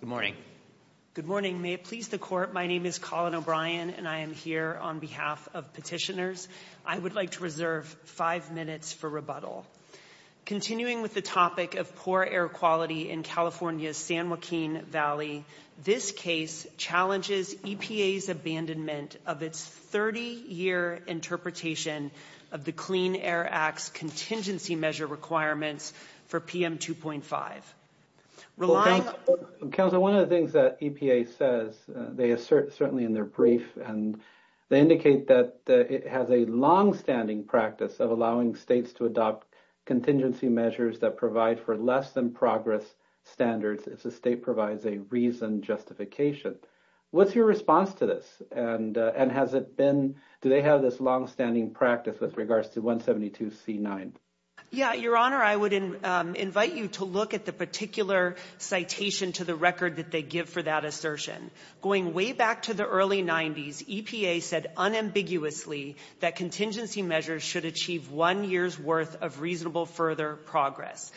Good morning. Good morning. May it please the Court, my name is Colin O'Brien and I am here on behalf of petitioners. I would like to reserve five minutes for rebuttal. Continuing with the topic of poor air quality in California's San Joaquin Valley, this case challenges EPA's abandonment of its 30-year interpretation of the Clean Air Act's contingency measure requirements for PM 2.5. Rolando. Counsel, one of the things that EPA says, they assert certainly in their brief and they indicate that it has a long-standing practice of allowing states to adopt contingency measures that provide for less than progress standards if the state provides a reasoned justification. What's your response to this and has it been, do they have this long-standing practice with regards to 172C9? Yeah, Your Honor, I would invite you to look at the particular citation to the record that they give for that assertion. Going way back to the early 90s, EPA said unambiguously that contingency measures should achieve one year's worth of reasonable further progress.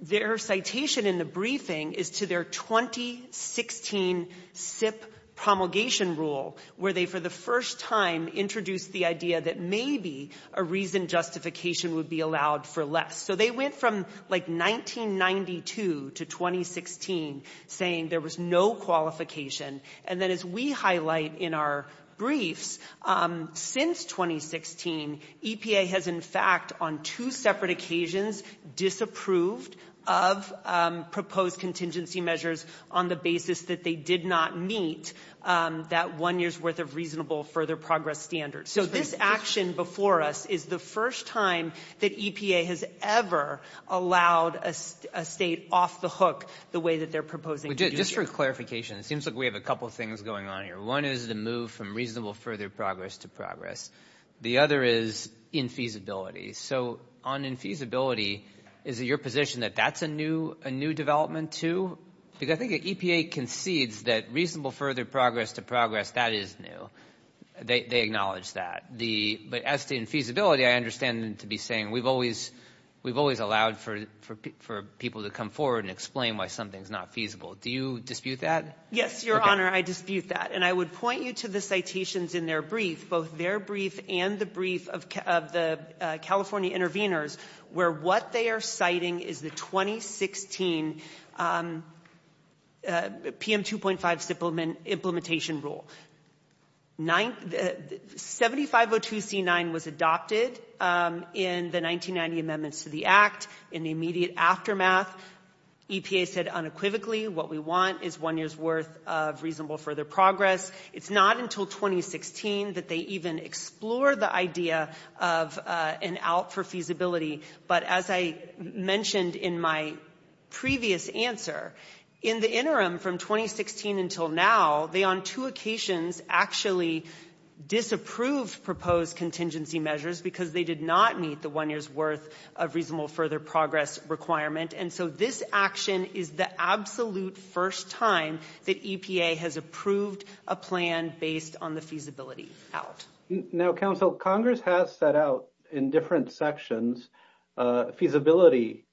Their citation in the briefing is to their 2016 SIP promulgation rule where they for the first time introduced the idea that maybe a reasoned justification would be allowed for less. So they went from like 1992 to 2016 saying there was no qualification and then as we highlight in our briefs, since 2016, EPA has in fact on two separate occasions disapproved of proposed contingency measures on the basis that they did not meet that one year's worth of reasonable further progress standards. So this action before us is the first time that EPA has ever allowed a state off the hook the way that they're proposing to do it. Just for clarification, it seems like we have a couple things going on here. One is the move from reasonable further progress to progress. The other is infeasibility. So on infeasibility, is it your position that that's a new development too? I think EPA concedes that reasonable further progress to progress, that is new. They acknowledge that. But as to infeasibility, I understand them to be saying we've always allowed for people to come forward and explain why something's not feasible. Do you dispute that? Yes, Your Honor, I dispute that. And I would point you to the citations in their brief, both their brief and the brief of the California intervenors, where what they are citing is the 2016 PM 2.5 implementation rule. 7502C9 was adopted in the 1990 Amendments to the Act. In the immediate aftermath, EPA said unequivocally what we want is one year's worth of reasonable further progress. It's not until 2016 that they even explore the idea of an out for feasibility. But as I mentioned in my previous answer, in the interim from 2016 until now, they on two occasions actually disapproved proposed contingency measures because they did not meet the one year's worth of reasonable further progress requirement. And so this action is the absolute first time that EPA has approved a plan based on the feasibility out. Now, counsel, Congress has set out in different sections feasibility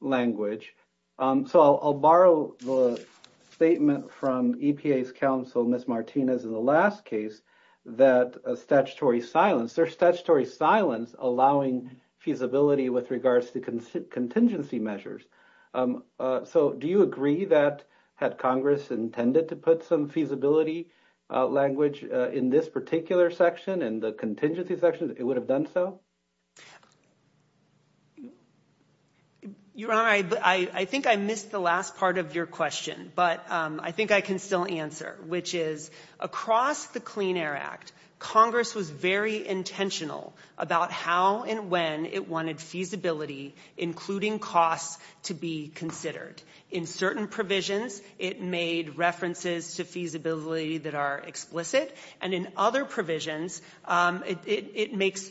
language. So I'll borrow the statement from EPA's counsel, Ms. Martinez, in the last case that statutory silence. There's statutory silence allowing feasibility with regards to contingency measures. So do you agree that had Congress intended to put some feasibility language in this particular section and the contingency section, it would have done so? Your Honor, I think I missed the last part of your question, but I think I can still answer. Which is, across the Clean Air Act, Congress was very intentional about how and when it wanted feasibility, including costs, to be considered. In certain provisions, it made references to feasibility that are explicit. And in other provisions, it makes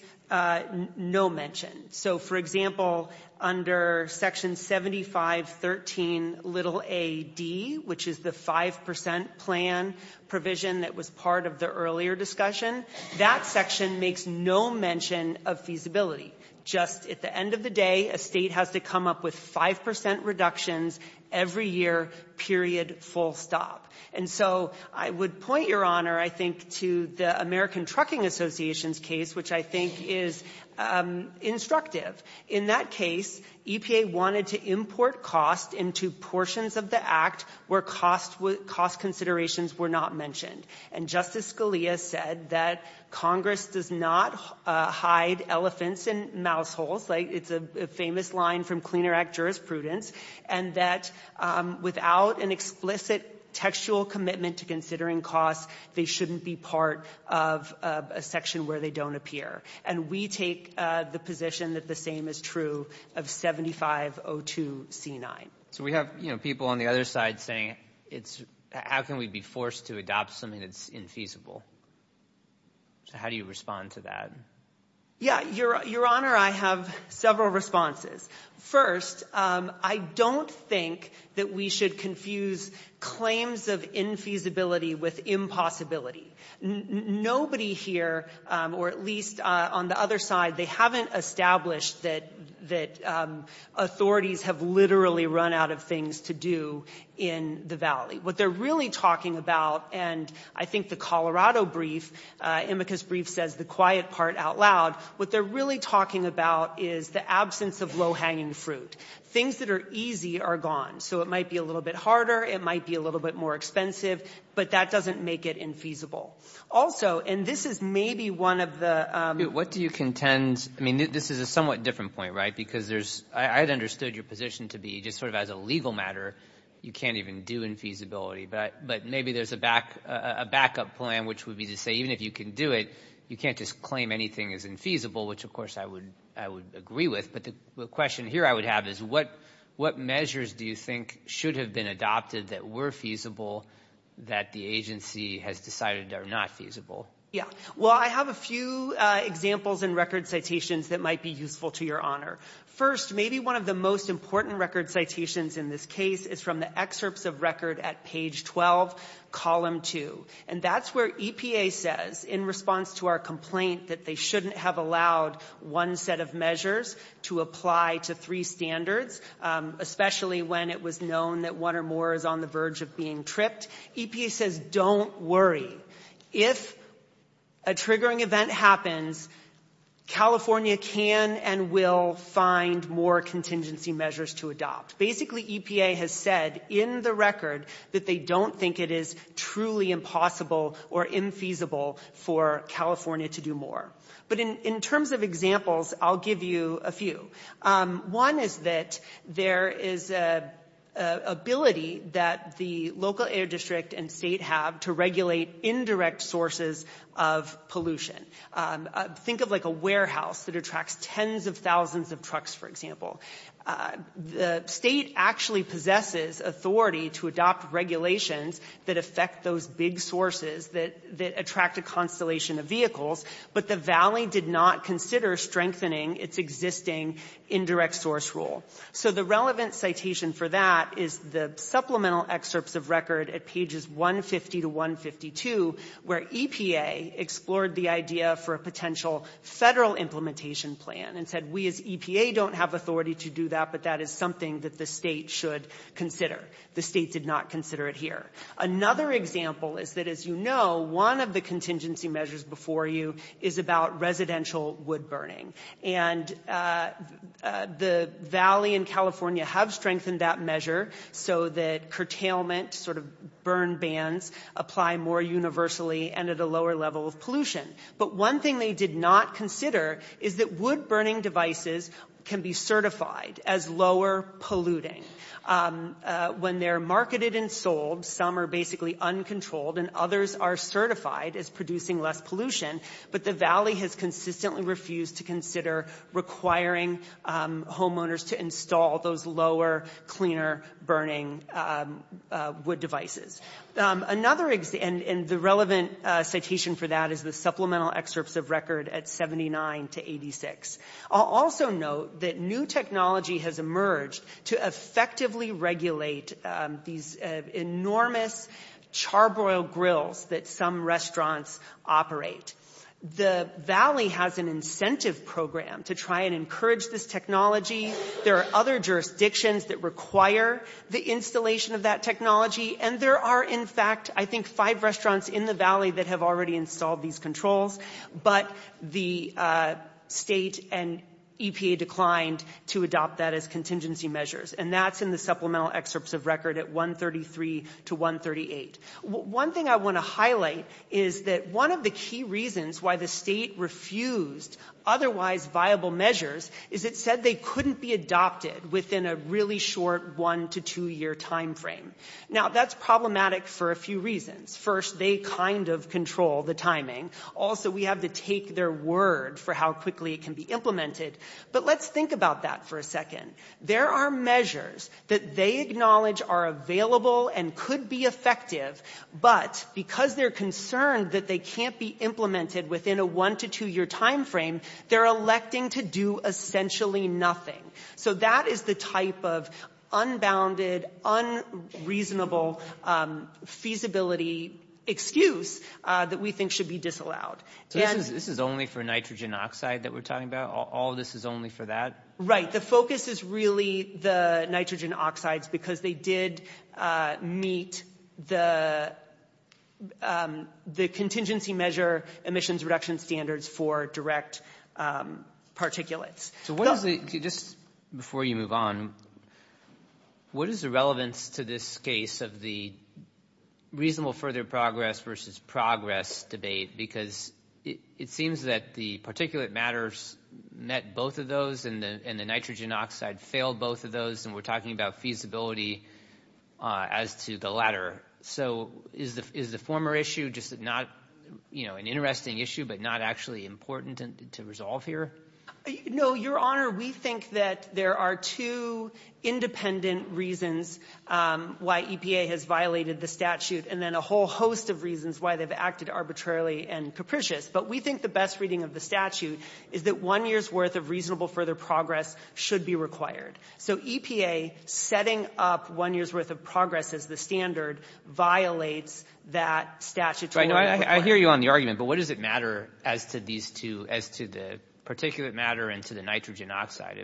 no mention. So for example, under section 7513a.d., which is the 5% plan provision that was part of the earlier discussion, that section makes no mention of feasibility. Just at the end of the day, a state has to come up with 5% reductions every year, period full stop. And so I would point, Your Honor, I think to the American Trucking Association's case, which I think is instructive. In that case, EPA wanted to import costs into portions of the act where cost considerations were not mentioned. And Justice Scalia said that Congress does not hide elephants in mouse holes, like it's a famous line from Clean Air Act jurisprudence, and that without an explicit textual commitment to considering costs, they shouldn't be part of a section where they don't appear. And we take the position that the same is true of 7502c9. So we have people on the other side saying, how can we be forced to adopt something that's infeasible? So how do you respond to that? Yeah, Your Honor, I have several responses. First, I don't think that we should confuse claims of infeasibility with impossibility. Nobody here, or at least on the other side, they haven't established that authorities have literally run out of things to do in the Valley. What they're really talking about, and I think the Colorado brief, Amicus brief says the quiet part out loud, what they're really talking about is the absence of low-hanging fruit. Things that are easy are gone. So it might be a little bit harder, it might be a little bit more expensive, but that doesn't make it infeasible. Also, and this is maybe one of the... What do you contend? I mean, this is a somewhat different point, right? Because there's, I had understood your position to be just sort of as a legal matter, you can't even do infeasibility. But maybe there's a backup plan, which would be to say, even if you can do it, you can't just claim anything is infeasible, which of course I would agree with. But the question here I would have is, what measures do you think should have been adopted that were feasible that the agency has decided are not feasible? Yeah. Well, I have a few examples in record citations that might be useful to your honor. First, maybe one of the most important record citations in this case is from the excerpts of record at page 12, column two. And that's where EPA says, in response to our complaint that they shouldn't have allowed one set of measures to apply to three standards, especially when it was known that one or more is on the verge of being tripped, EPA says, don't worry. If a triggering event happens, California can and will find more contingency measures to adopt. Basically, EPA has said in the record that they don't think it is truly impossible or infeasible for California to do more. But in terms of examples, I'll give you a few. One is that there is an ability that the local air district and state have to regulate indirect sources of pollution. Think of like a warehouse that attracts tens of thousands of trucks, for example. The state actually possesses authority to adopt regulations that affect those big sources that attract a constellation of vehicles, but the valley did not consider strengthening its existing indirect source rule. So the relevant citation for that is the supplemental excerpts of record at pages 150 to 152, where EPA explored the idea for a potential federal implementation plan and said, we as EPA don't have authority to do that, but that is something that the state should consider. The state did not consider it here. Another example is that, as you know, one of the contingency measures before you is about residential wood burning. And the valley and California have strengthened that measure so that curtailment sort of burn bans apply more universally and at a lower level of pollution. But one thing they did not consider is that wood burning devices can be certified as lower polluting. When they're marketed and sold, some are basically uncontrolled and others are certified as producing less pollution, but the valley has consistently refused to consider requiring homeowners to install those lower, cleaner burning wood devices. Another example, and the relevant citation for that is the supplemental excerpts of record at 79 to 86. I'll also note that new technology has emerged to effectively regulate these enormous charbroil grills that some restaurants operate. The valley has an incentive program to try and encourage this technology. There are other jurisdictions that require the installation of that technology, and there are, in fact, I think five restaurants in the valley that have already installed these controls, but the state and EPA declined to adopt that as contingency measures, and that's in the supplemental excerpts of record at 133 to 138. One thing I want to highlight is that one of the key reasons why the state refused otherwise viable measures is it said they couldn't be adopted within a really short one to two-year time frame. Now, that's problematic for a few reasons. First, they kind of control the timing. Also, we have to take their word for how quickly it can be implemented, but let's think about that for a second. There are measures that they acknowledge are available and could be effective, but because they're concerned that they can't be implemented within a one to two-year time frame, they're electing to do essentially nothing. So that is the type of unbounded, unreasonable feasibility excuse that we think should be disallowed. So this is only for nitrogen oxide that we're talking about? All of this is only for that? Right. The focus is really the nitrogen oxides because they did meet the contingency measure emissions reduction standards for direct particulates. So what is the, just before you move on, what is the relevance to this case of the reasonable further progress versus progress debate? Because it seems that the particulate matters met both of those and the nitrogen oxide failed both of those, and we're talking about feasibility as to the latter. So is the former issue just not an interesting issue, but not actually important to resolve here? No, Your Honor. We think that there are two independent reasons why EPA has violated the statute and then a whole host of reasons why they've acted arbitrarily and capricious. But we think the best reading of the statute is that one year's worth of reasonable further progress should be required. So EPA setting up one year's worth of progress as the standard violates that statutory requirement. I hear you on the argument, but what does it matter as to these two, as to the particulate matter and to the nitrogen oxide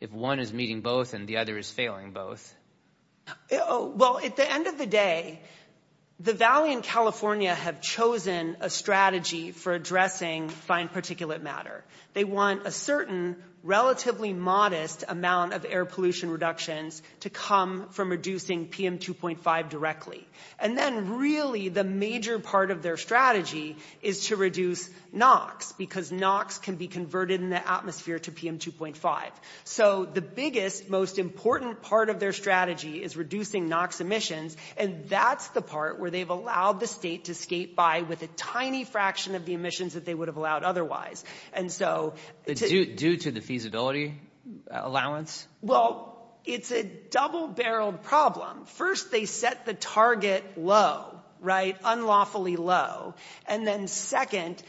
if one is meeting both and the other is failing both? Well, at the end of the day, the Valley and California have chosen a strategy for addressing fine particulate matter. They want a certain relatively modest amount of air pollution reductions to come from reducing PM2.5 directly. And then really the major part of their strategy is to reduce NOx because NOx can be converted in the atmosphere to PM2.5. So the biggest, most important part of their strategy is reducing NOx emissions. And that's the part where they've allowed the state to skate by with a tiny fraction of the emissions that they would have allowed otherwise. And so due to the feasibility allowance? Well, it's a double-barreled problem. First, they set the target low, right? Unlawfully low. And then second,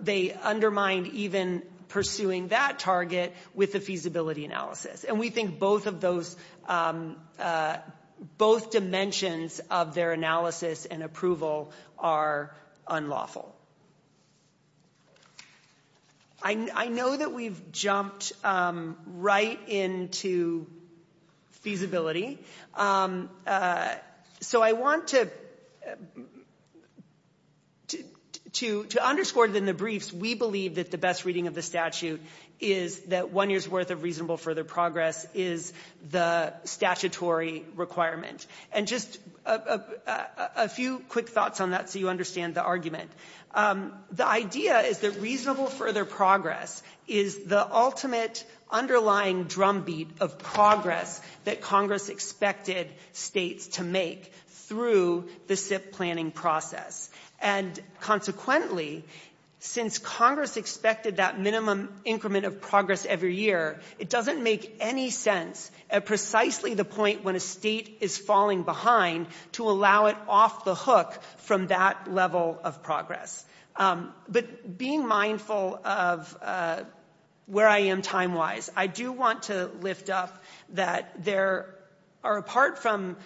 they undermined even pursuing that target with the feasibility analysis. And we think both of those, both dimensions of their analysis and approval are unlawful. I know that we've jumped right into feasibility. So I want to underscore in the briefs, we believe that the best reading of the statute is that one year's worth of reasonable further progress is the statutory requirement. And just a few quick thoughts on that so you understand the argument. The idea is that reasonable further progress is the ultimate underlying drumbeat of progress that Congress expected states to make through the SIPP planning process. And consequently, since Congress expected that minimum increment of progress every year, it doesn't make any sense at precisely the point when a state is falling behind to allow it off the hook from that level of progress. But being mindful of where I am time-wise, I do want to lift up that there are, apart from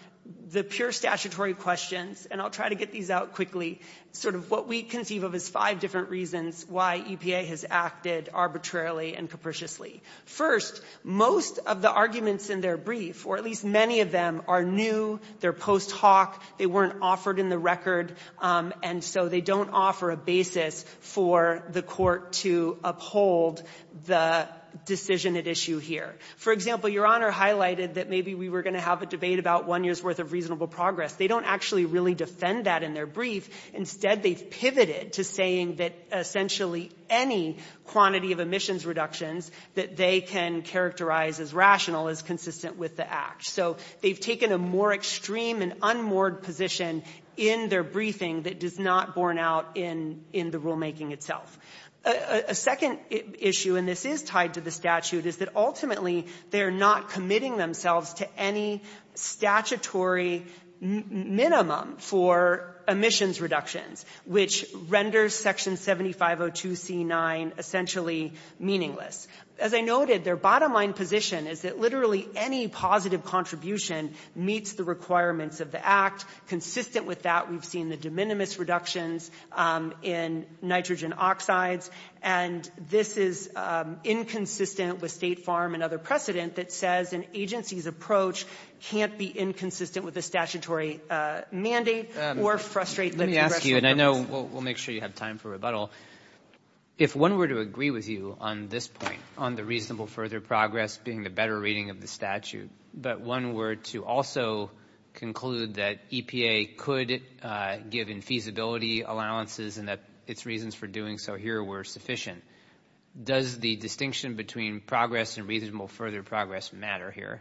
the pure statutory questions, and I'll try to get these out quickly, sort of what we conceive of as five different reasons why EPA has acted arbitrarily and capriciously. First, most of the arguments in their brief, or at least many of them, are new. They're post hoc. They weren't offered in the record, and so they don't offer a basis for the Court to uphold the decision at issue here. For example, Your Honor highlighted that maybe we were going to have a debate about one year's worth of reasonable progress. They don't actually really defend that in their brief. Instead, they've pivoted to saying that essentially any quantity of emissions reductions that they can characterize as rational is consistent with the Act. So they've taken a more extreme and unmoored position in their briefing that does not borne out in the rulemaking itself. A second issue, and this is tied to the statute, is that ultimately they're not committing themselves to any statutory minimum for emissions reductions, which renders Section 7502c9 essentially meaningless. As I noted, their bottom line position is that literally any positive contribution meets the requirements of the Act. Consistent with that, we've seen the de minimis reductions in nitrogen oxides. And this is inconsistent with State Farm and other precedent that says an agency's approach can't be inconsistent with a statutory mandate or frustrate the congressional purpose. Let me ask you, and I know we'll make sure you have time for rebuttal. If one were to agree with you on this point, on the reasonable further progress being the better reading of the statute, but one were to also conclude that EPA could give infeasibility allowances and that its reasons for doing so here were sufficient, does the distinction between progress and reasonable further progress matter here?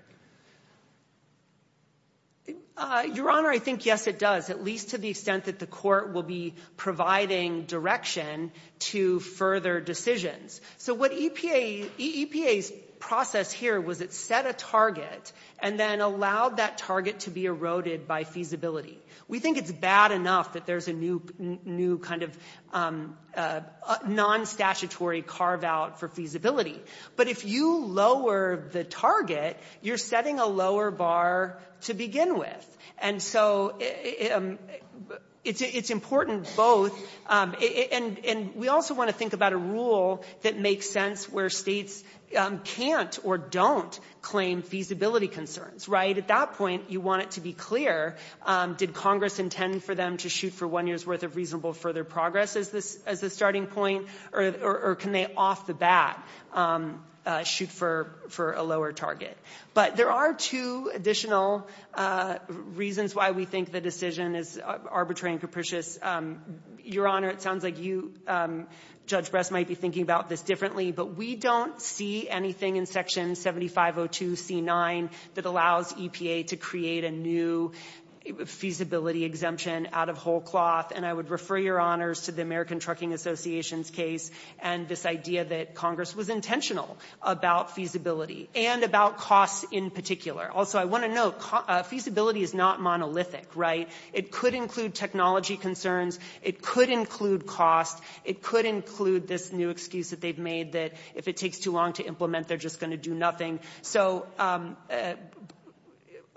Your Honor, I think, yes, it does, at least to the extent that the Court will be providing direction to further decisions. So what EPA's process here was it set a target and then allowed that target to be eroded by feasibility. We think it's bad enough that there's a new kind of non-statutory carve out for feasibility. But if you lower the target, you're setting a lower bar to begin with. And so it's important both, and we also want to think about a rule that makes sense where states can't or don't claim feasibility concerns, right? At that point, you want it to be clear, did Congress intend for them to shoot for one year's worth of reasonable further progress as the starting point, or can they off the bat shoot for a lower target? But there are two additional reasons why we think the decision is arbitrary and capricious. Your Honor, it sounds like you, Judge Brest, might be thinking about this differently, but we don't see anything in Section 7502c9 that allows EPA to create a new feasibility exemption out of whole cloth. And I would refer your honors to the American Trucking Association's case and this idea that Congress was intentional about feasibility and about costs in particular. Also I want to note, feasibility is not monolithic, right? It could include technology concerns, it could include cost, it could include this new excuse that they've made that if it takes too long to implement, they're just going to do nothing. So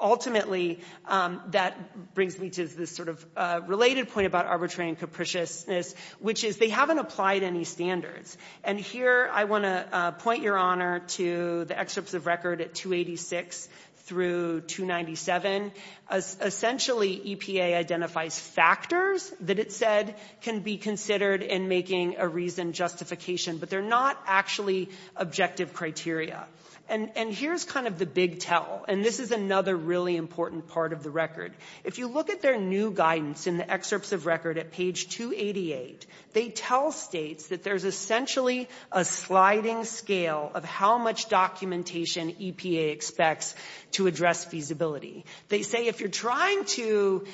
ultimately, that brings me to this sort of related point about arbitrary and capriciousness, which is they haven't applied any standards. And here I want to point your honor to the excerpts of record at 286 through 297. Essentially, EPA identifies factors that it said can be considered in making a reason justification, but they're not actually objective criteria. And here's kind of the big tell, and this is another really important part of the record. If you look at their new guidance in the excerpts of record at page 288, they tell states that there's essentially a sliding scale of how much documentation EPA expects to address feasibility. They say if you're trying to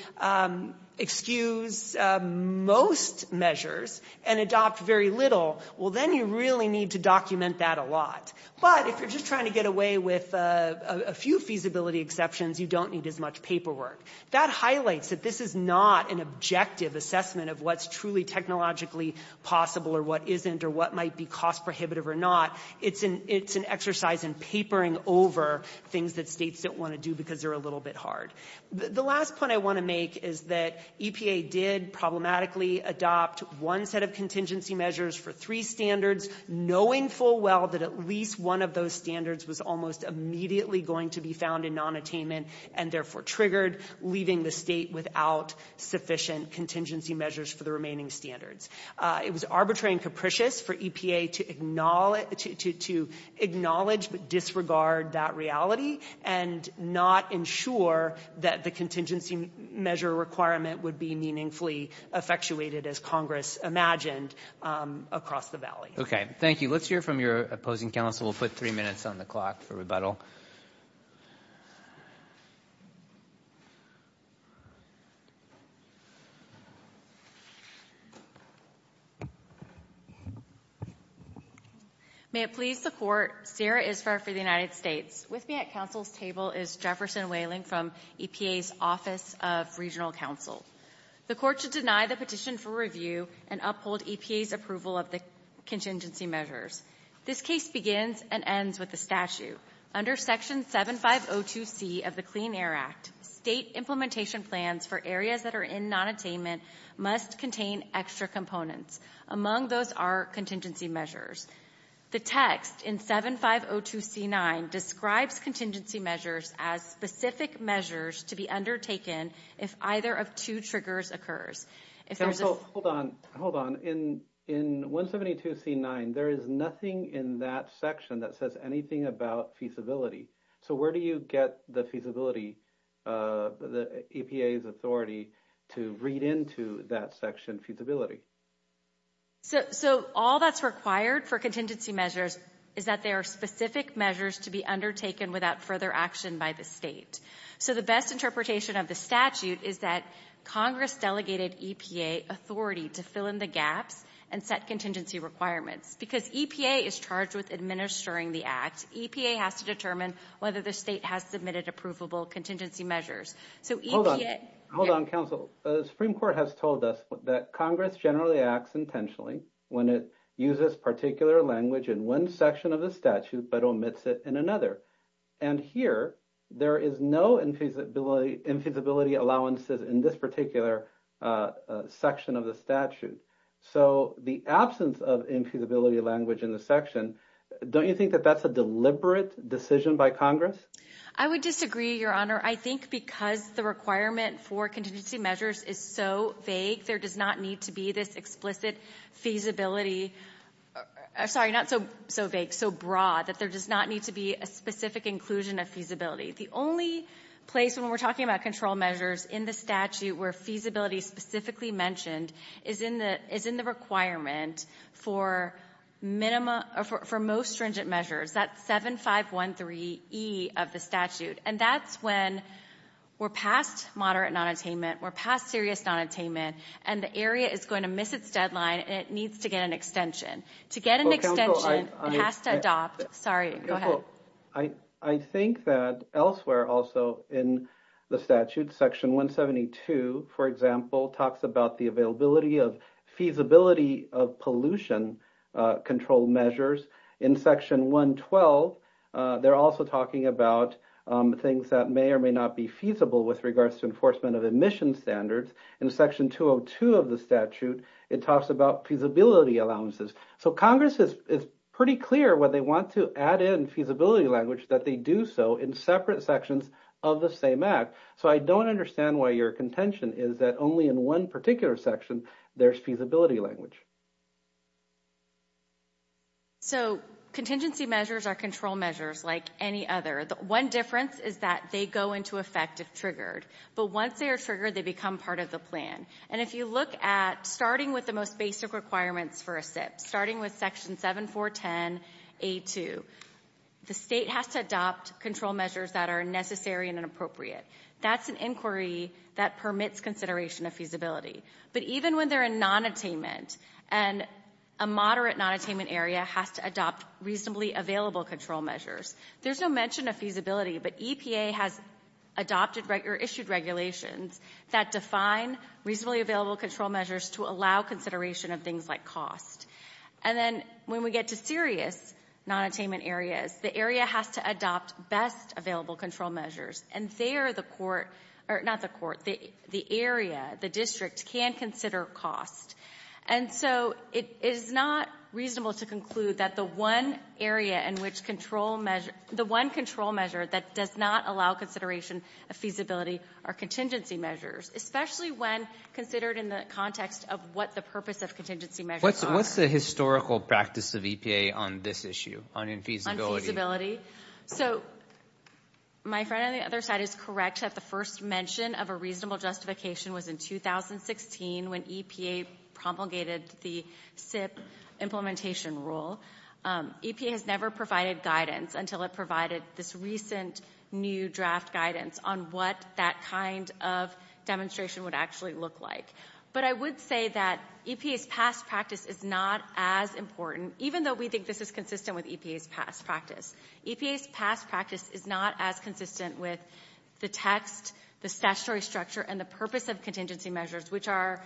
excuse most measures and adopt very little, well then you really need to document that a lot. But if you're just trying to get away with a few feasibility exceptions, you don't need as much paperwork. That highlights that this is not an objective assessment of what's truly technologically possible or what isn't or what might be cost prohibitive or not. It's an exercise in papering over things that states don't want to do because they're a little bit hard. The last point I want to make is that EPA did problematically adopt one set of contingency measures for three standards, knowing full well that at least one of those standards was almost immediately going to be found in nonattainment and therefore triggered, leaving the state without sufficient contingency measures for the remaining standards. It was arbitrary and capricious for EPA to acknowledge but disregard that reality and not ensure that the contingency measure requirement would be meaningfully effectuated as Congress imagined across the valley. Okay. Thank you. Let's hear from your opposing counsel. We'll put three minutes on the clock for rebuttal. May it please the Court, Sarah Isfar for the United States. With me at counsel's table is Jefferson Whaling from EPA's Office of Regional Counsel. The Court should deny the petition for review and uphold EPA's approval of the contingency measures. This case begins and ends with the statute. Under Section 7502C of the Clean Air Act, state implementation plans for areas that are in nonattainment must contain extra components. Among those are contingency measures. The text in 7502C9 describes contingency measures as specific measures to be undertaken if either of two triggers occurs. Counsel, hold on, hold on. In 172C9, there is nothing in that section that says anything about feasibility. So where do you get the feasibility, the EPA's authority to read into that section feasibility? So all that's required for contingency measures is that they are specific measures to be undertaken without further action by the state. So the best interpretation of the statute is that Congress delegated EPA authority to fill in the gaps and set contingency requirements. Because EPA is charged with administering the act, EPA has to determine whether the state has submitted approvable contingency measures. So EPA... Hold on, Counsel. The Supreme Court has told us that Congress generally acts intentionally when it uses particular language in one section of the statute but omits it in another. And here, there is no infeasibility allowances in this particular section of the statute. So the absence of infeasibility language in the section, don't you think that that's a deliberate decision by Congress? I would disagree, Your Honor. I think because the requirement for contingency measures is so vague, there does not need to be this explicit feasibility... Sorry, not so vague, so broad, that there does not need to be a specific inclusion of feasibility. The only place when we're talking about control measures in the statute where feasibility specifically mentioned is in the requirement for most stringent measures, that 7513E of the statute. And that's when we're past moderate nonattainment, we're past serious nonattainment, and the area is going to miss its deadline and it needs to get an extension. To get an extension, it has to adopt... Sorry, go ahead. I think that elsewhere also in the statute, Section 172, for example, talks about the availability of feasibility of pollution control measures. In Section 112, they're also talking about things that may or may not be feasible with regards to enforcement of emission standards. In Section 202 of the statute, it talks about feasibility allowances. So Congress is pretty clear when they want to add in feasibility language that they do so in separate sections of the same Act. So I don't understand why your contention is that only in one particular section, there's feasibility language. So contingency measures are control measures like any other. One difference is that they go into effect if triggered. But once they are triggered, they become part of the plan. And if you look at starting with the most basic requirements for a SIP, starting with Section 7410A2, the state has to adopt control measures that are necessary and inappropriate. That's an inquiry that permits consideration of feasibility. But even when they're in nonattainment, and a moderate nonattainment area has to adopt reasonably available control measures, there's no mention of feasibility, but EPA has adopted or issued regulations that define reasonably available control measures to allow consideration of things like cost. And then when we get to serious nonattainment areas, the area has to adopt best available control measures. And there, the court, or not the court, the area, the district, can consider cost. And so it is not reasonable to conclude that the one area in which control measure, the feasibility, are contingency measures, especially when considered in the context of what the purpose of contingency measures are. What's the historical practice of EPA on this issue, on infeasibility? So my friend on the other side is correct that the first mention of a reasonable justification was in 2016 when EPA promulgated the SIP implementation rule. EPA has never provided guidance until it provided this recent new draft guidance on what that kind of demonstration would actually look like. But I would say that EPA's past practice is not as important, even though we think this is consistent with EPA's past practice. EPA's past practice is not as consistent with the text, the statutory structure, and the purpose of contingency measures, which are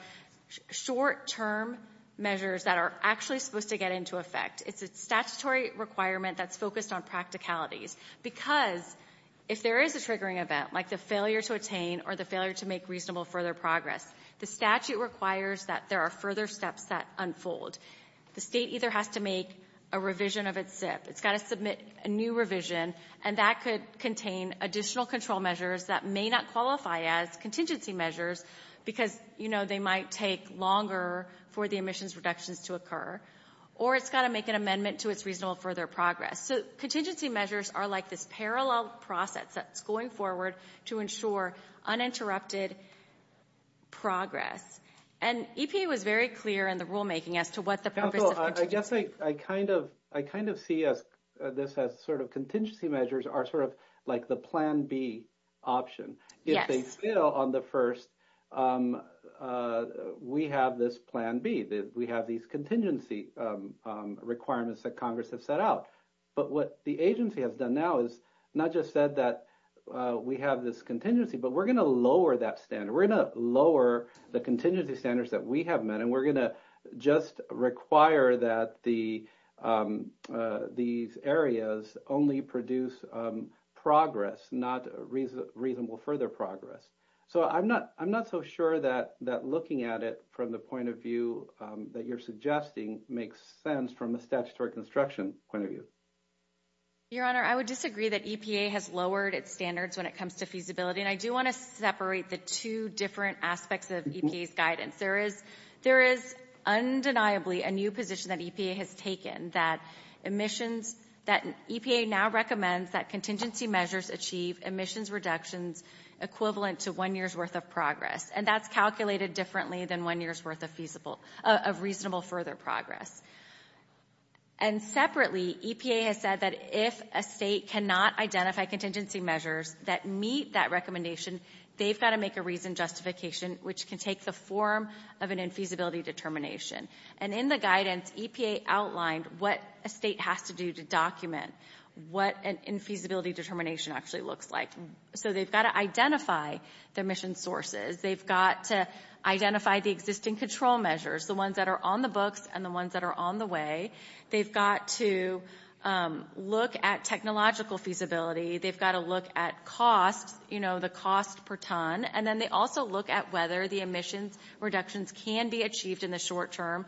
short-term measures that are actually supposed to get into effect. It's a statutory requirement that's focused on practicalities. Because if there is a triggering event, like the failure to attain or the failure to make reasonable further progress, the statute requires that there are further steps that unfold. The state either has to make a revision of its SIP, it's got to submit a new revision, and that could contain additional control measures that may not qualify as contingency measures, because, you know, they might take longer for the emissions reductions to occur. Or it's got to make an amendment to its reasonable further progress. So contingency measures are like this parallel process that's going forward to ensure uninterrupted progress. And EPA was very clear in the rulemaking as to what the purpose of contingency measures I guess I kind of see this as sort of contingency measures are sort of like the plan B option. Yes. And they still, on the first, we have this plan B. We have these contingency requirements that Congress has set out. But what the agency has done now is not just said that we have this contingency, but we're going to lower that standard. We're going to lower the contingency standards that we have met, and we're going to just require that these areas only produce progress, not reasonable further progress. So I'm not so sure that looking at it from the point of view that you're suggesting makes sense from a statutory construction point of view. Your Honor, I would disagree that EPA has lowered its standards when it comes to feasibility. And I do want to separate the two different aspects of EPA's guidance. There is undeniably a new position that EPA has taken that emissions, that EPA now recommends that contingency measures achieve emissions reductions equivalent to one year's worth of progress. And that's calculated differently than one year's worth of reasonable further progress. And separately, EPA has said that if a state cannot identify contingency measures that meet that recommendation, they've got to make a reasoned justification, which can take the form of an infeasibility determination. And in the guidance, EPA outlined what a state has to do to document what an infeasibility determination actually looks like. So they've got to identify the emission sources. They've got to identify the existing control measures, the ones that are on the books and the ones that are on the way. They've got to look at technological feasibility. They've got to look at costs, you know, the cost per ton. And then they also look at whether the emissions reductions can be achieved in the short term,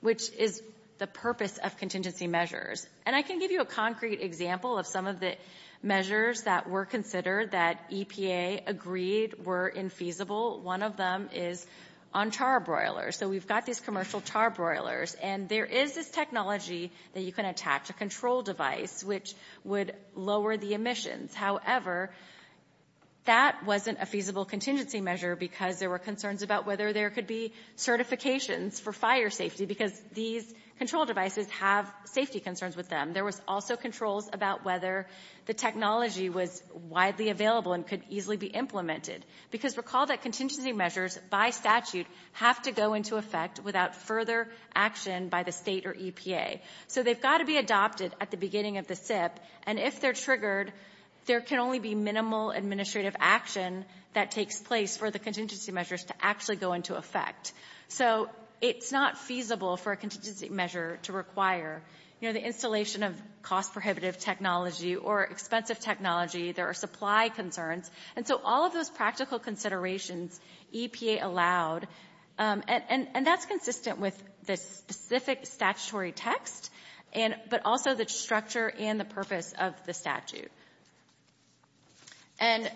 which is the purpose of contingency measures. And I can give you a concrete example of some of the measures that were considered that EPA agreed were infeasible. One of them is on charbroilers. So we've got these commercial charbroilers. And there is this technology that you can attach a control device, which would lower the emissions. However, that wasn't a feasible contingency measure because there were concerns about whether there could be certifications for fire safety because these control devices have safety concerns with them. There was also controls about whether the technology was widely available and could easily be implemented. Because recall that contingency measures, by statute, have to go into effect without further action by the state or EPA. So they've got to be adopted at the beginning of the SIP. And if they're triggered, there can only be minimal administrative action that takes place for the contingency measures to actually go into effect. So it's not feasible for a contingency measure to require, you know, the installation of cost prohibitive technology or expensive technology. There are supply concerns. And so all of those practical considerations, EPA allowed. And that's consistent with the specific statutory text, but also the structure and the purpose of the statute. And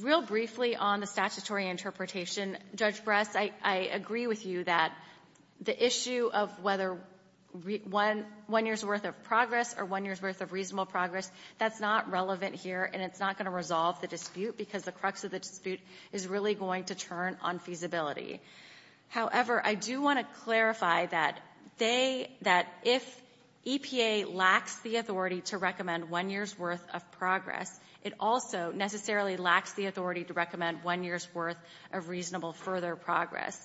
real briefly on the statutory interpretation, Judge Bress, I agree with you that the issue of whether one year's worth of progress or one year's worth of reasonable progress, that's not relevant here. And it's not going to resolve the dispute because the crux of the dispute is really going to turn on feasibility. However, I do want to clarify that they, that if EPA lacks the authority to recommend one year's worth of progress, it also necessarily lacks the authority to recommend one year's worth of reasonable further progress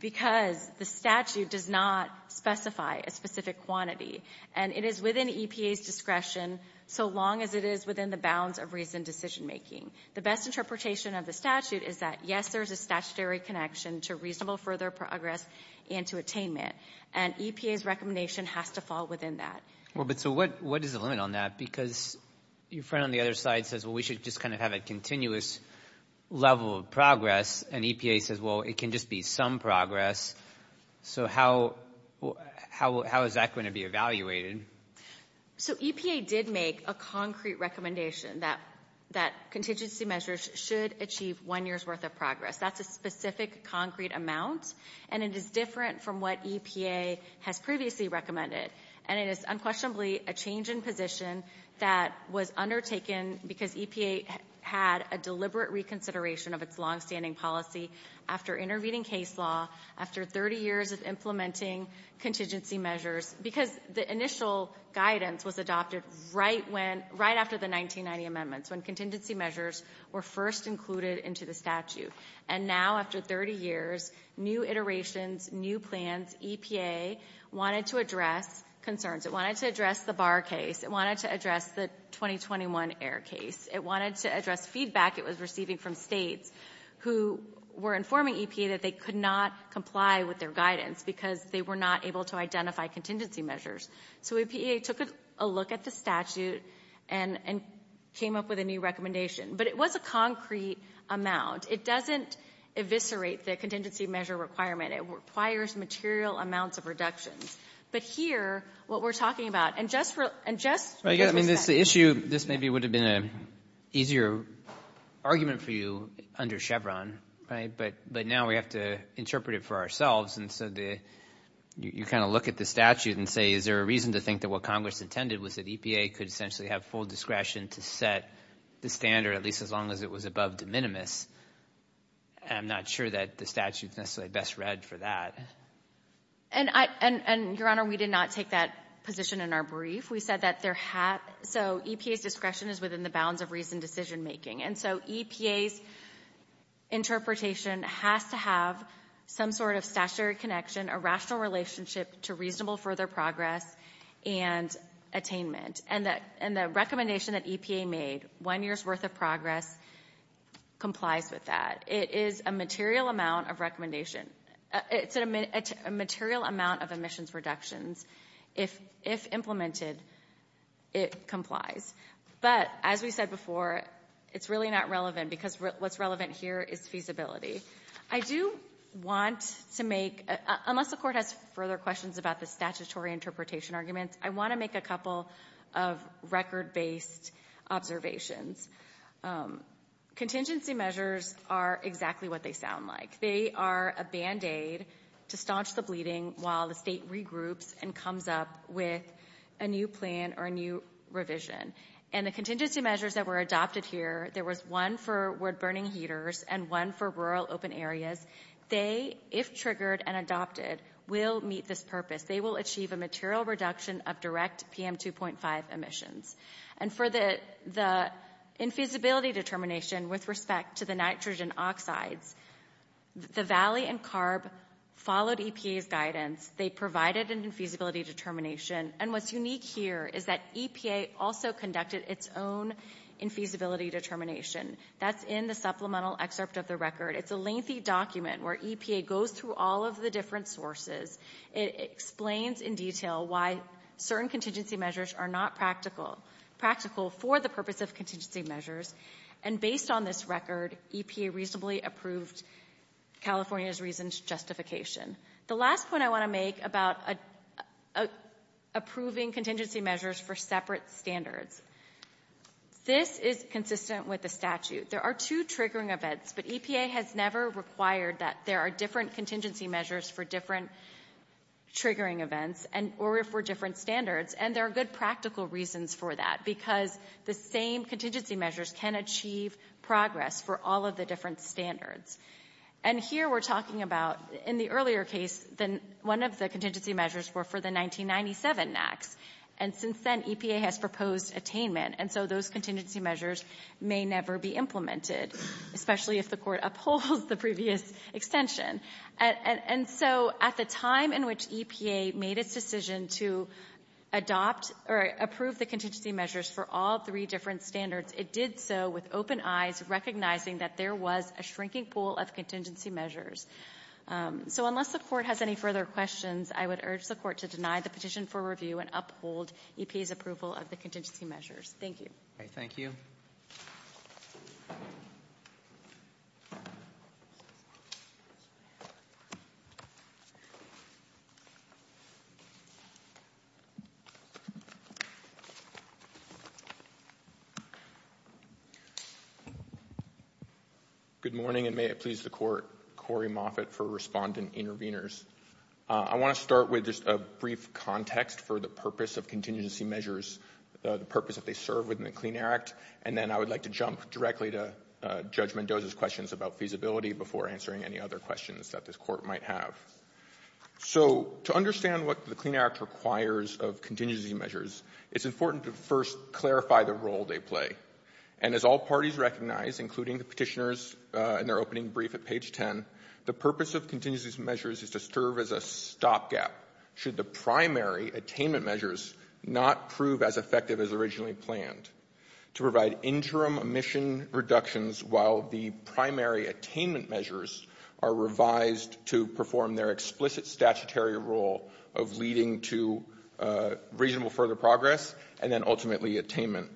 because the statute does not specify a specific quantity. And it is within EPA's discretion so long as it is within the bounds of reasoned decision making. The best interpretation of the statute is that, yes, there's a statutory connection to reasonable further progress and to attainment. And EPA's recommendation has to fall within that. Well, but so what is the limit on that? Because your friend on the other side says, well, we should just kind of have a continuous level of progress. And EPA says, well, it can just be some progress. So how is that going to be evaluated? So EPA did make a concrete recommendation that, that contingency measures should achieve one year's worth of progress. That's a specific concrete amount. And it is different from what EPA has previously recommended. And it is unquestionably a change in position that was undertaken because EPA had a deliberate reconsideration of its longstanding policy after intervening case law, after 30 years of implementing contingency measures, because the initial guidance was adopted right after the 1990 amendments, when contingency measures were first included into the statute. And now, after 30 years, new iterations, new plans, EPA wanted to address concerns. It wanted to address the Barr case. It wanted to address the 2021 Ayer case. It wanted to address feedback it was receiving from states who were informing EPA that they could not comply with their guidance because they were not able to identify contingency measures. So EPA took a look at the statute and came up with a new recommendation. But it was a concrete amount. It doesn't eviscerate the contingency measure requirement. It requires material amounts of reductions. But here, what we're talking about, and just for, and just for perspective. I mean, this issue, this maybe would have been an easier argument for you under Chevron, right? But now we have to interpret it for ourselves. And so the, you kind of look at the statute and say, is there a reason to think that what Congress intended was that EPA could essentially have full discretion to set the standard, at least as long as it was above de minimis? I'm not sure that the statute's necessarily best read for that. And I, and, and, Your Honor, we did not take that position in our brief. We said that there had, so EPA's discretion is within the bounds of reasoned decision making. And so EPA's interpretation has to have some sort of statutory connection, a rational relationship to reasonable further progress and attainment. And the, and the recommendation that EPA made, one year's worth of progress, complies with that. It is a material amount of recommendation. It's a material amount of emissions reductions. If implemented, it complies. But as we said before, it's really not relevant because what's relevant here is feasibility. I do want to make, unless the Court has further questions about the statutory interpretation arguments, I want to make a couple of record-based observations. Contingency measures are exactly what they sound like. They are a Band-Aid to staunch the bleeding while the state regroups and comes up with a new plan or a new revision. And the contingency measures that were adopted here, there was one for wood-burning heaters and one for rural open areas. They, if triggered and adopted, will meet this purpose. They will achieve a material reduction of direct PM2.5 emissions. And for the, the infeasibility determination with respect to the nitrogen oxides, the Valley and CARB followed EPA's guidance. They provided an infeasibility determination. And what's unique here is that EPA also conducted its own infeasibility determination. That's in the supplemental excerpt of the record. It's a lengthy document where EPA goes through all of the different sources. It explains in detail why certain contingency measures are not practical, practical for the purpose of contingency measures. And based on this record, EPA reasonably approved California's recent justification. The last point I want to make about approving contingency measures for separate standards. This is consistent with the statute. There are two triggering events, but EPA has never required that there are different contingency measures for different triggering events and, or for different standards. And there are good practical reasons for that because the same contingency measures can achieve progress for all of the different standards. And here we're talking about, in the earlier case, one of the contingency measures were for the 1997 NAAQS. And since then, EPA has proposed attainment. And so those contingency measures may never be implemented, especially if the court upholds the previous extension. And so at the time in which EPA made its decision to adopt or approve the contingency measures for all three different standards, it did so with open eyes, recognizing that there was a shrinking pool of contingency measures. So unless the court has any further questions, I would urge the court to deny the petition for review and uphold EPA's approval of the contingency measures. Thank you. All right, thank you. Good morning, and may it please the court, Corey Moffitt for Respondent Intervenors. I want to start with just a brief context for the purpose of contingency measures, the Clean Air Act, and then I would like to jump directly to Judge Mendoza's questions about feasibility before answering any other questions that this court might have. So to understand what the Clean Air Act requires of contingency measures, it's important to first clarify the role they play. And as all parties recognize, including the petitioners in their opening brief at page 10, the purpose of contingency measures is to serve as a stopgap should the primary attainment measures not prove as effective as originally planned, to provide interim emission reductions while the primary attainment measures are revised to perform their explicit statutory role of leading to reasonable further progress and then ultimately attainment.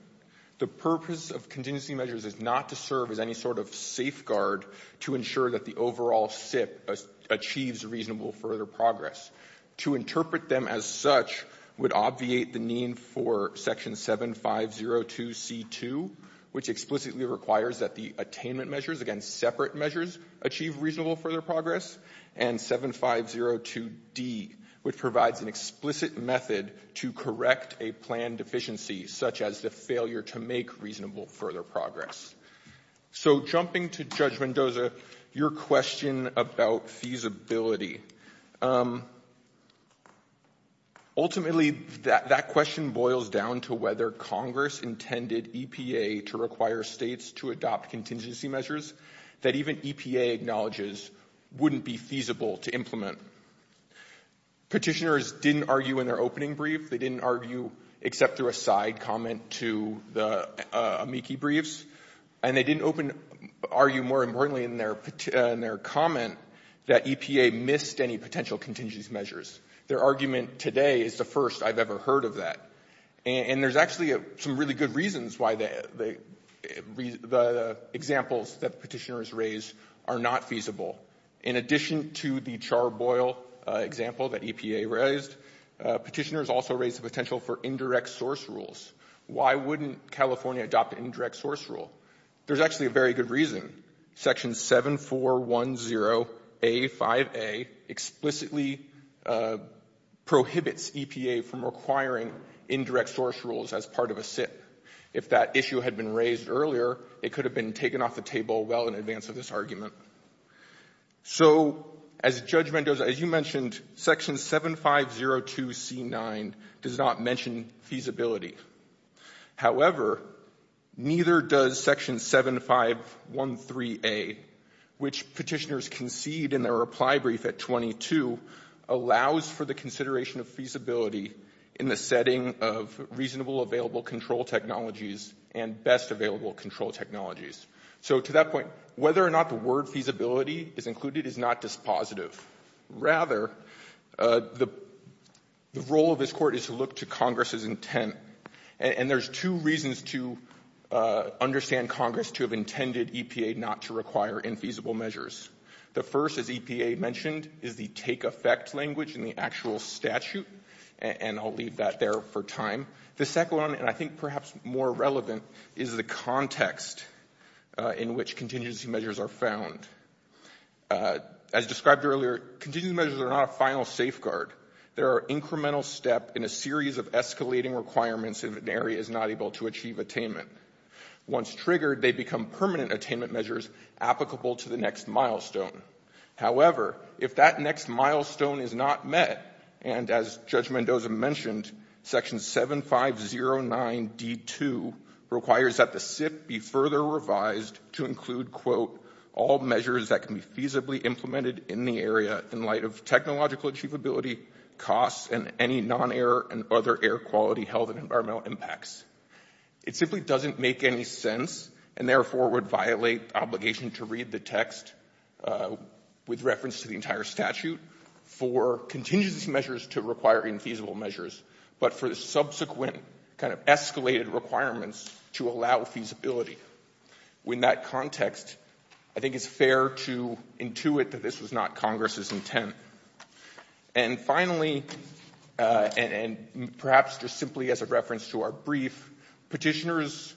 The purpose of contingency measures is not to serve as any sort of safeguard to ensure that the overall SIP achieves reasonable further progress. To interpret them as such would obviate the need for Section 7502C2, which explicitly requires that the attainment measures, again separate measures, achieve reasonable further progress, and 7502D, which provides an explicit method to correct a planned deficiency such as the failure to make reasonable further progress. So jumping to Judge Mendoza, your question about feasibility, ultimately that question boils down to whether Congress intended EPA to require States to adopt contingency measures that even EPA acknowledges wouldn't be feasible to implement. Petitioners didn't argue in their opening brief, they didn't argue except through a side comment to the amici briefs, and they didn't argue more importantly in their comment that EPA missed any potential contingency measures. Their argument today is the first I've ever heard of that. And there's actually some really good reasons why the examples that petitioners raised are not feasible. In addition to the charboil example that EPA raised, petitioners also raised the potential for indirect source rules. Why wouldn't California adopt an indirect source rule? There's actually a very good reason. Section 7410A5A explicitly prohibits EPA from requiring indirect source rules as part of a SIP. If that issue had been raised earlier, it could have been taken off the table well in advance of this argument. So as Judge Mendoza, as you mentioned, Section 7502C9 does not mention feasibility. However, neither does Section 7513A, which petitioners concede in their reply brief at 22, allows for the consideration of feasibility in the setting of reasonable available control technologies and best available control technologies. So to that point, whether or not the word feasibility is included is not dispositive. Rather, the role of this Court is to look to Congress's intent. And there's two reasons to understand Congress to have intended EPA not to require infeasible measures. The first, as EPA mentioned, is the take effect language in the actual statute. And I'll leave that there for time. The second one, and I think perhaps more relevant, is the context in which contingency measures are found. As described earlier, contingency measures are not a final safeguard. They are an incremental step in a series of escalating requirements if an area is not able to achieve attainment. Once triggered, they become permanent attainment measures applicable to the next milestone. However, if that next milestone is not met, and as Judge Mendoza mentioned, Section 7509D2 requires that the SIP be further revised to include, quote, all measures that can be feasibly implemented in the area in light of technological achievability, costs, and any non-air and other air quality health and environmental impacts. It simply doesn't make any sense and, therefore, would violate obligation to read the text with reference to the entire statute for contingency measures to requiring feasible measures, but for the subsequent kind of escalated requirements to allow feasibility. In that context, I think it's fair to intuit that this was not Congress's intent. And finally, and perhaps just simply as a reference to our brief, petitioners'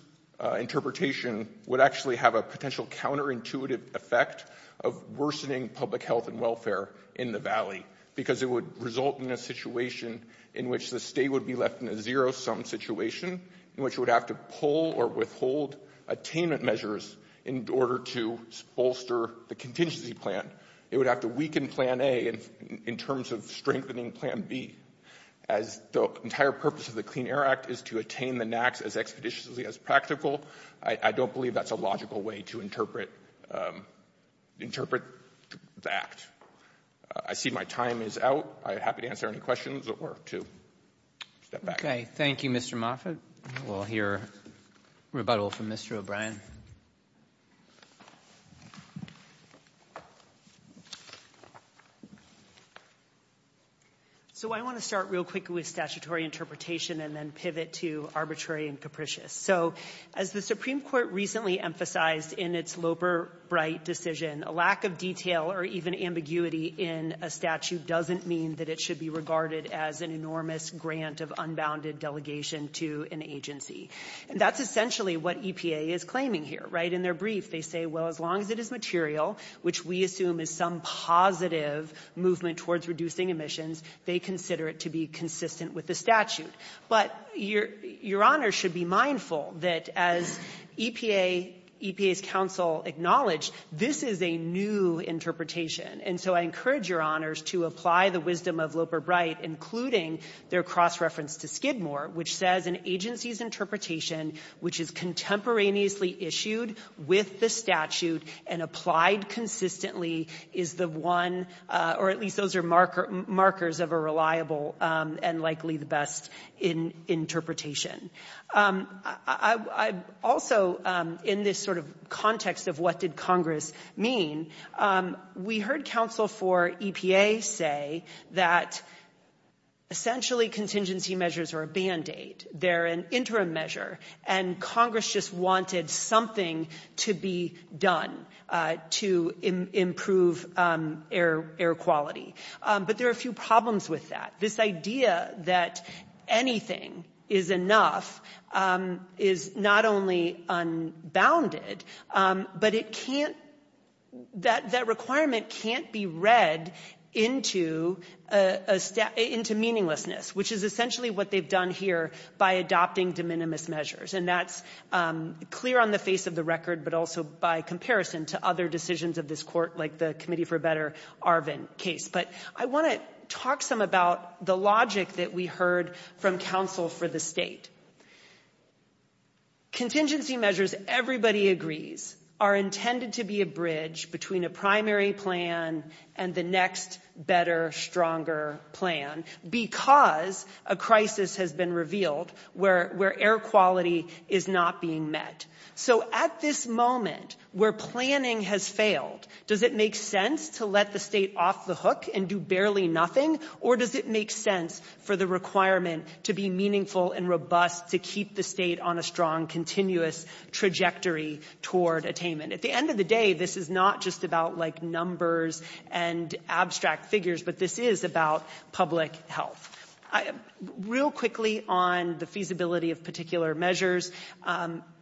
interpretation would actually have a potential counterintuitive effect of worsening public health and welfare in the Valley because it would result in a situation in which the state would be left in a zero-sum situation in which it would have to pull or withhold attainment measures in order to bolster the contingency plan. It would have to weaken Plan A in terms of strengthening Plan B. As the entire purpose of the Clean Air Act is to attain the NAAQS as expeditiously as practical, I don't believe that's a logical way to interpret that. I see my time is out. I'm happy to answer any questions or to step back. Okay. Thank you, Mr. Moffitt. We'll hear rebuttal from Mr. O'Brien. So I want to start real quickly with statutory interpretation and then pivot to arbitrary and capricious. So as the Supreme Court recently emphasized in its Loper-Bright decision, a lack of detail or even ambiguity in a statute doesn't mean that it should be regarded as an enormous grant of unbounded delegation to an agency. That's essentially what EPA is claiming here, right? In their brief, they say, well, as long as it is material, which we assume is some positive movement towards reducing emissions, they consider it to be consistent with the statute. But Your Honor should be mindful that as EPA's counsel acknowledged, this is a new interpretation. And so I encourage Your Honors to apply the wisdom of Loper-Bright, including their cross-reference to Skidmore, which says an agency's interpretation, which is contemporaneously issued with the statute and applied consistently, is the one, or at least those are markers of a reliable and likely the best interpretation. Also, in this sort of context of what did Congress mean, we heard counsel for EPA say that essentially contingency measures are a Band-Aid. They're an interim measure. And Congress just wanted something to be done to improve air quality. But there are a few problems with that. This idea that anything is enough is not only unbounded, but it can't, that requirement can't be read into meaninglessness, which is essentially what they've done here by adopting de minimis measures. And that's clear on the face of the record, but also by comparison to other decisions of this Court, like the Committee for a Better Arvin case. But I want to talk some about the logic that we heard from counsel for the state. Contingency measures, everybody agrees, are intended to be a bridge between a primary plan and the next better, stronger plan because a crisis has been revealed where air quality is not being met. So at this moment where planning has failed, does it make sense to let the state off the hook and do barely nothing? Or does it make sense for the requirement to be meaningful and robust to keep the state on a strong, continuous trajectory toward attainment? At the end of the day, this is not just about like numbers and abstract figures, but this is about public health. Real quickly on the feasibility of particular measures,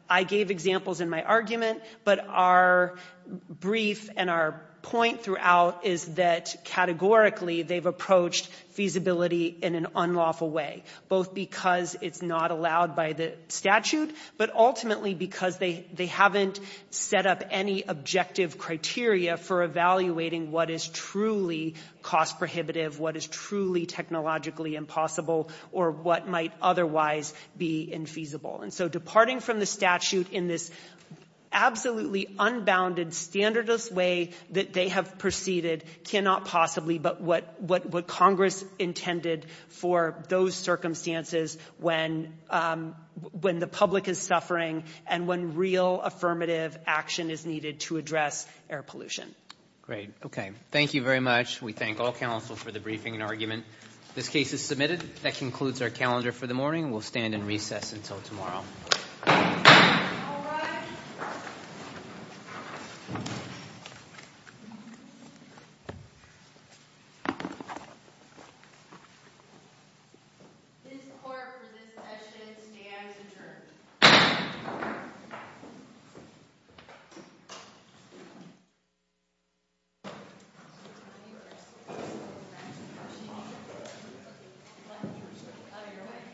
I gave examples in my argument, but our brief and our point throughout is that categorically they've approached feasibility in an unlawful way, both because it's not allowed by the statute, but ultimately because they haven't set up any objective criteria for evaluating what is truly cost prohibitive, what is truly technologically impossible, or what might otherwise be infeasible. And so departing from the statute in this absolutely unbounded, standardist way that they have proceeded cannot possibly but what Congress intended for those circumstances when the public is suffering and when real affirmative action is needed to address air pollution. Great. Okay. Thank you very much. We thank all counsel for the briefing and argument. This case is submitted. That concludes our calendar for the morning. We'll stand in recess until tomorrow.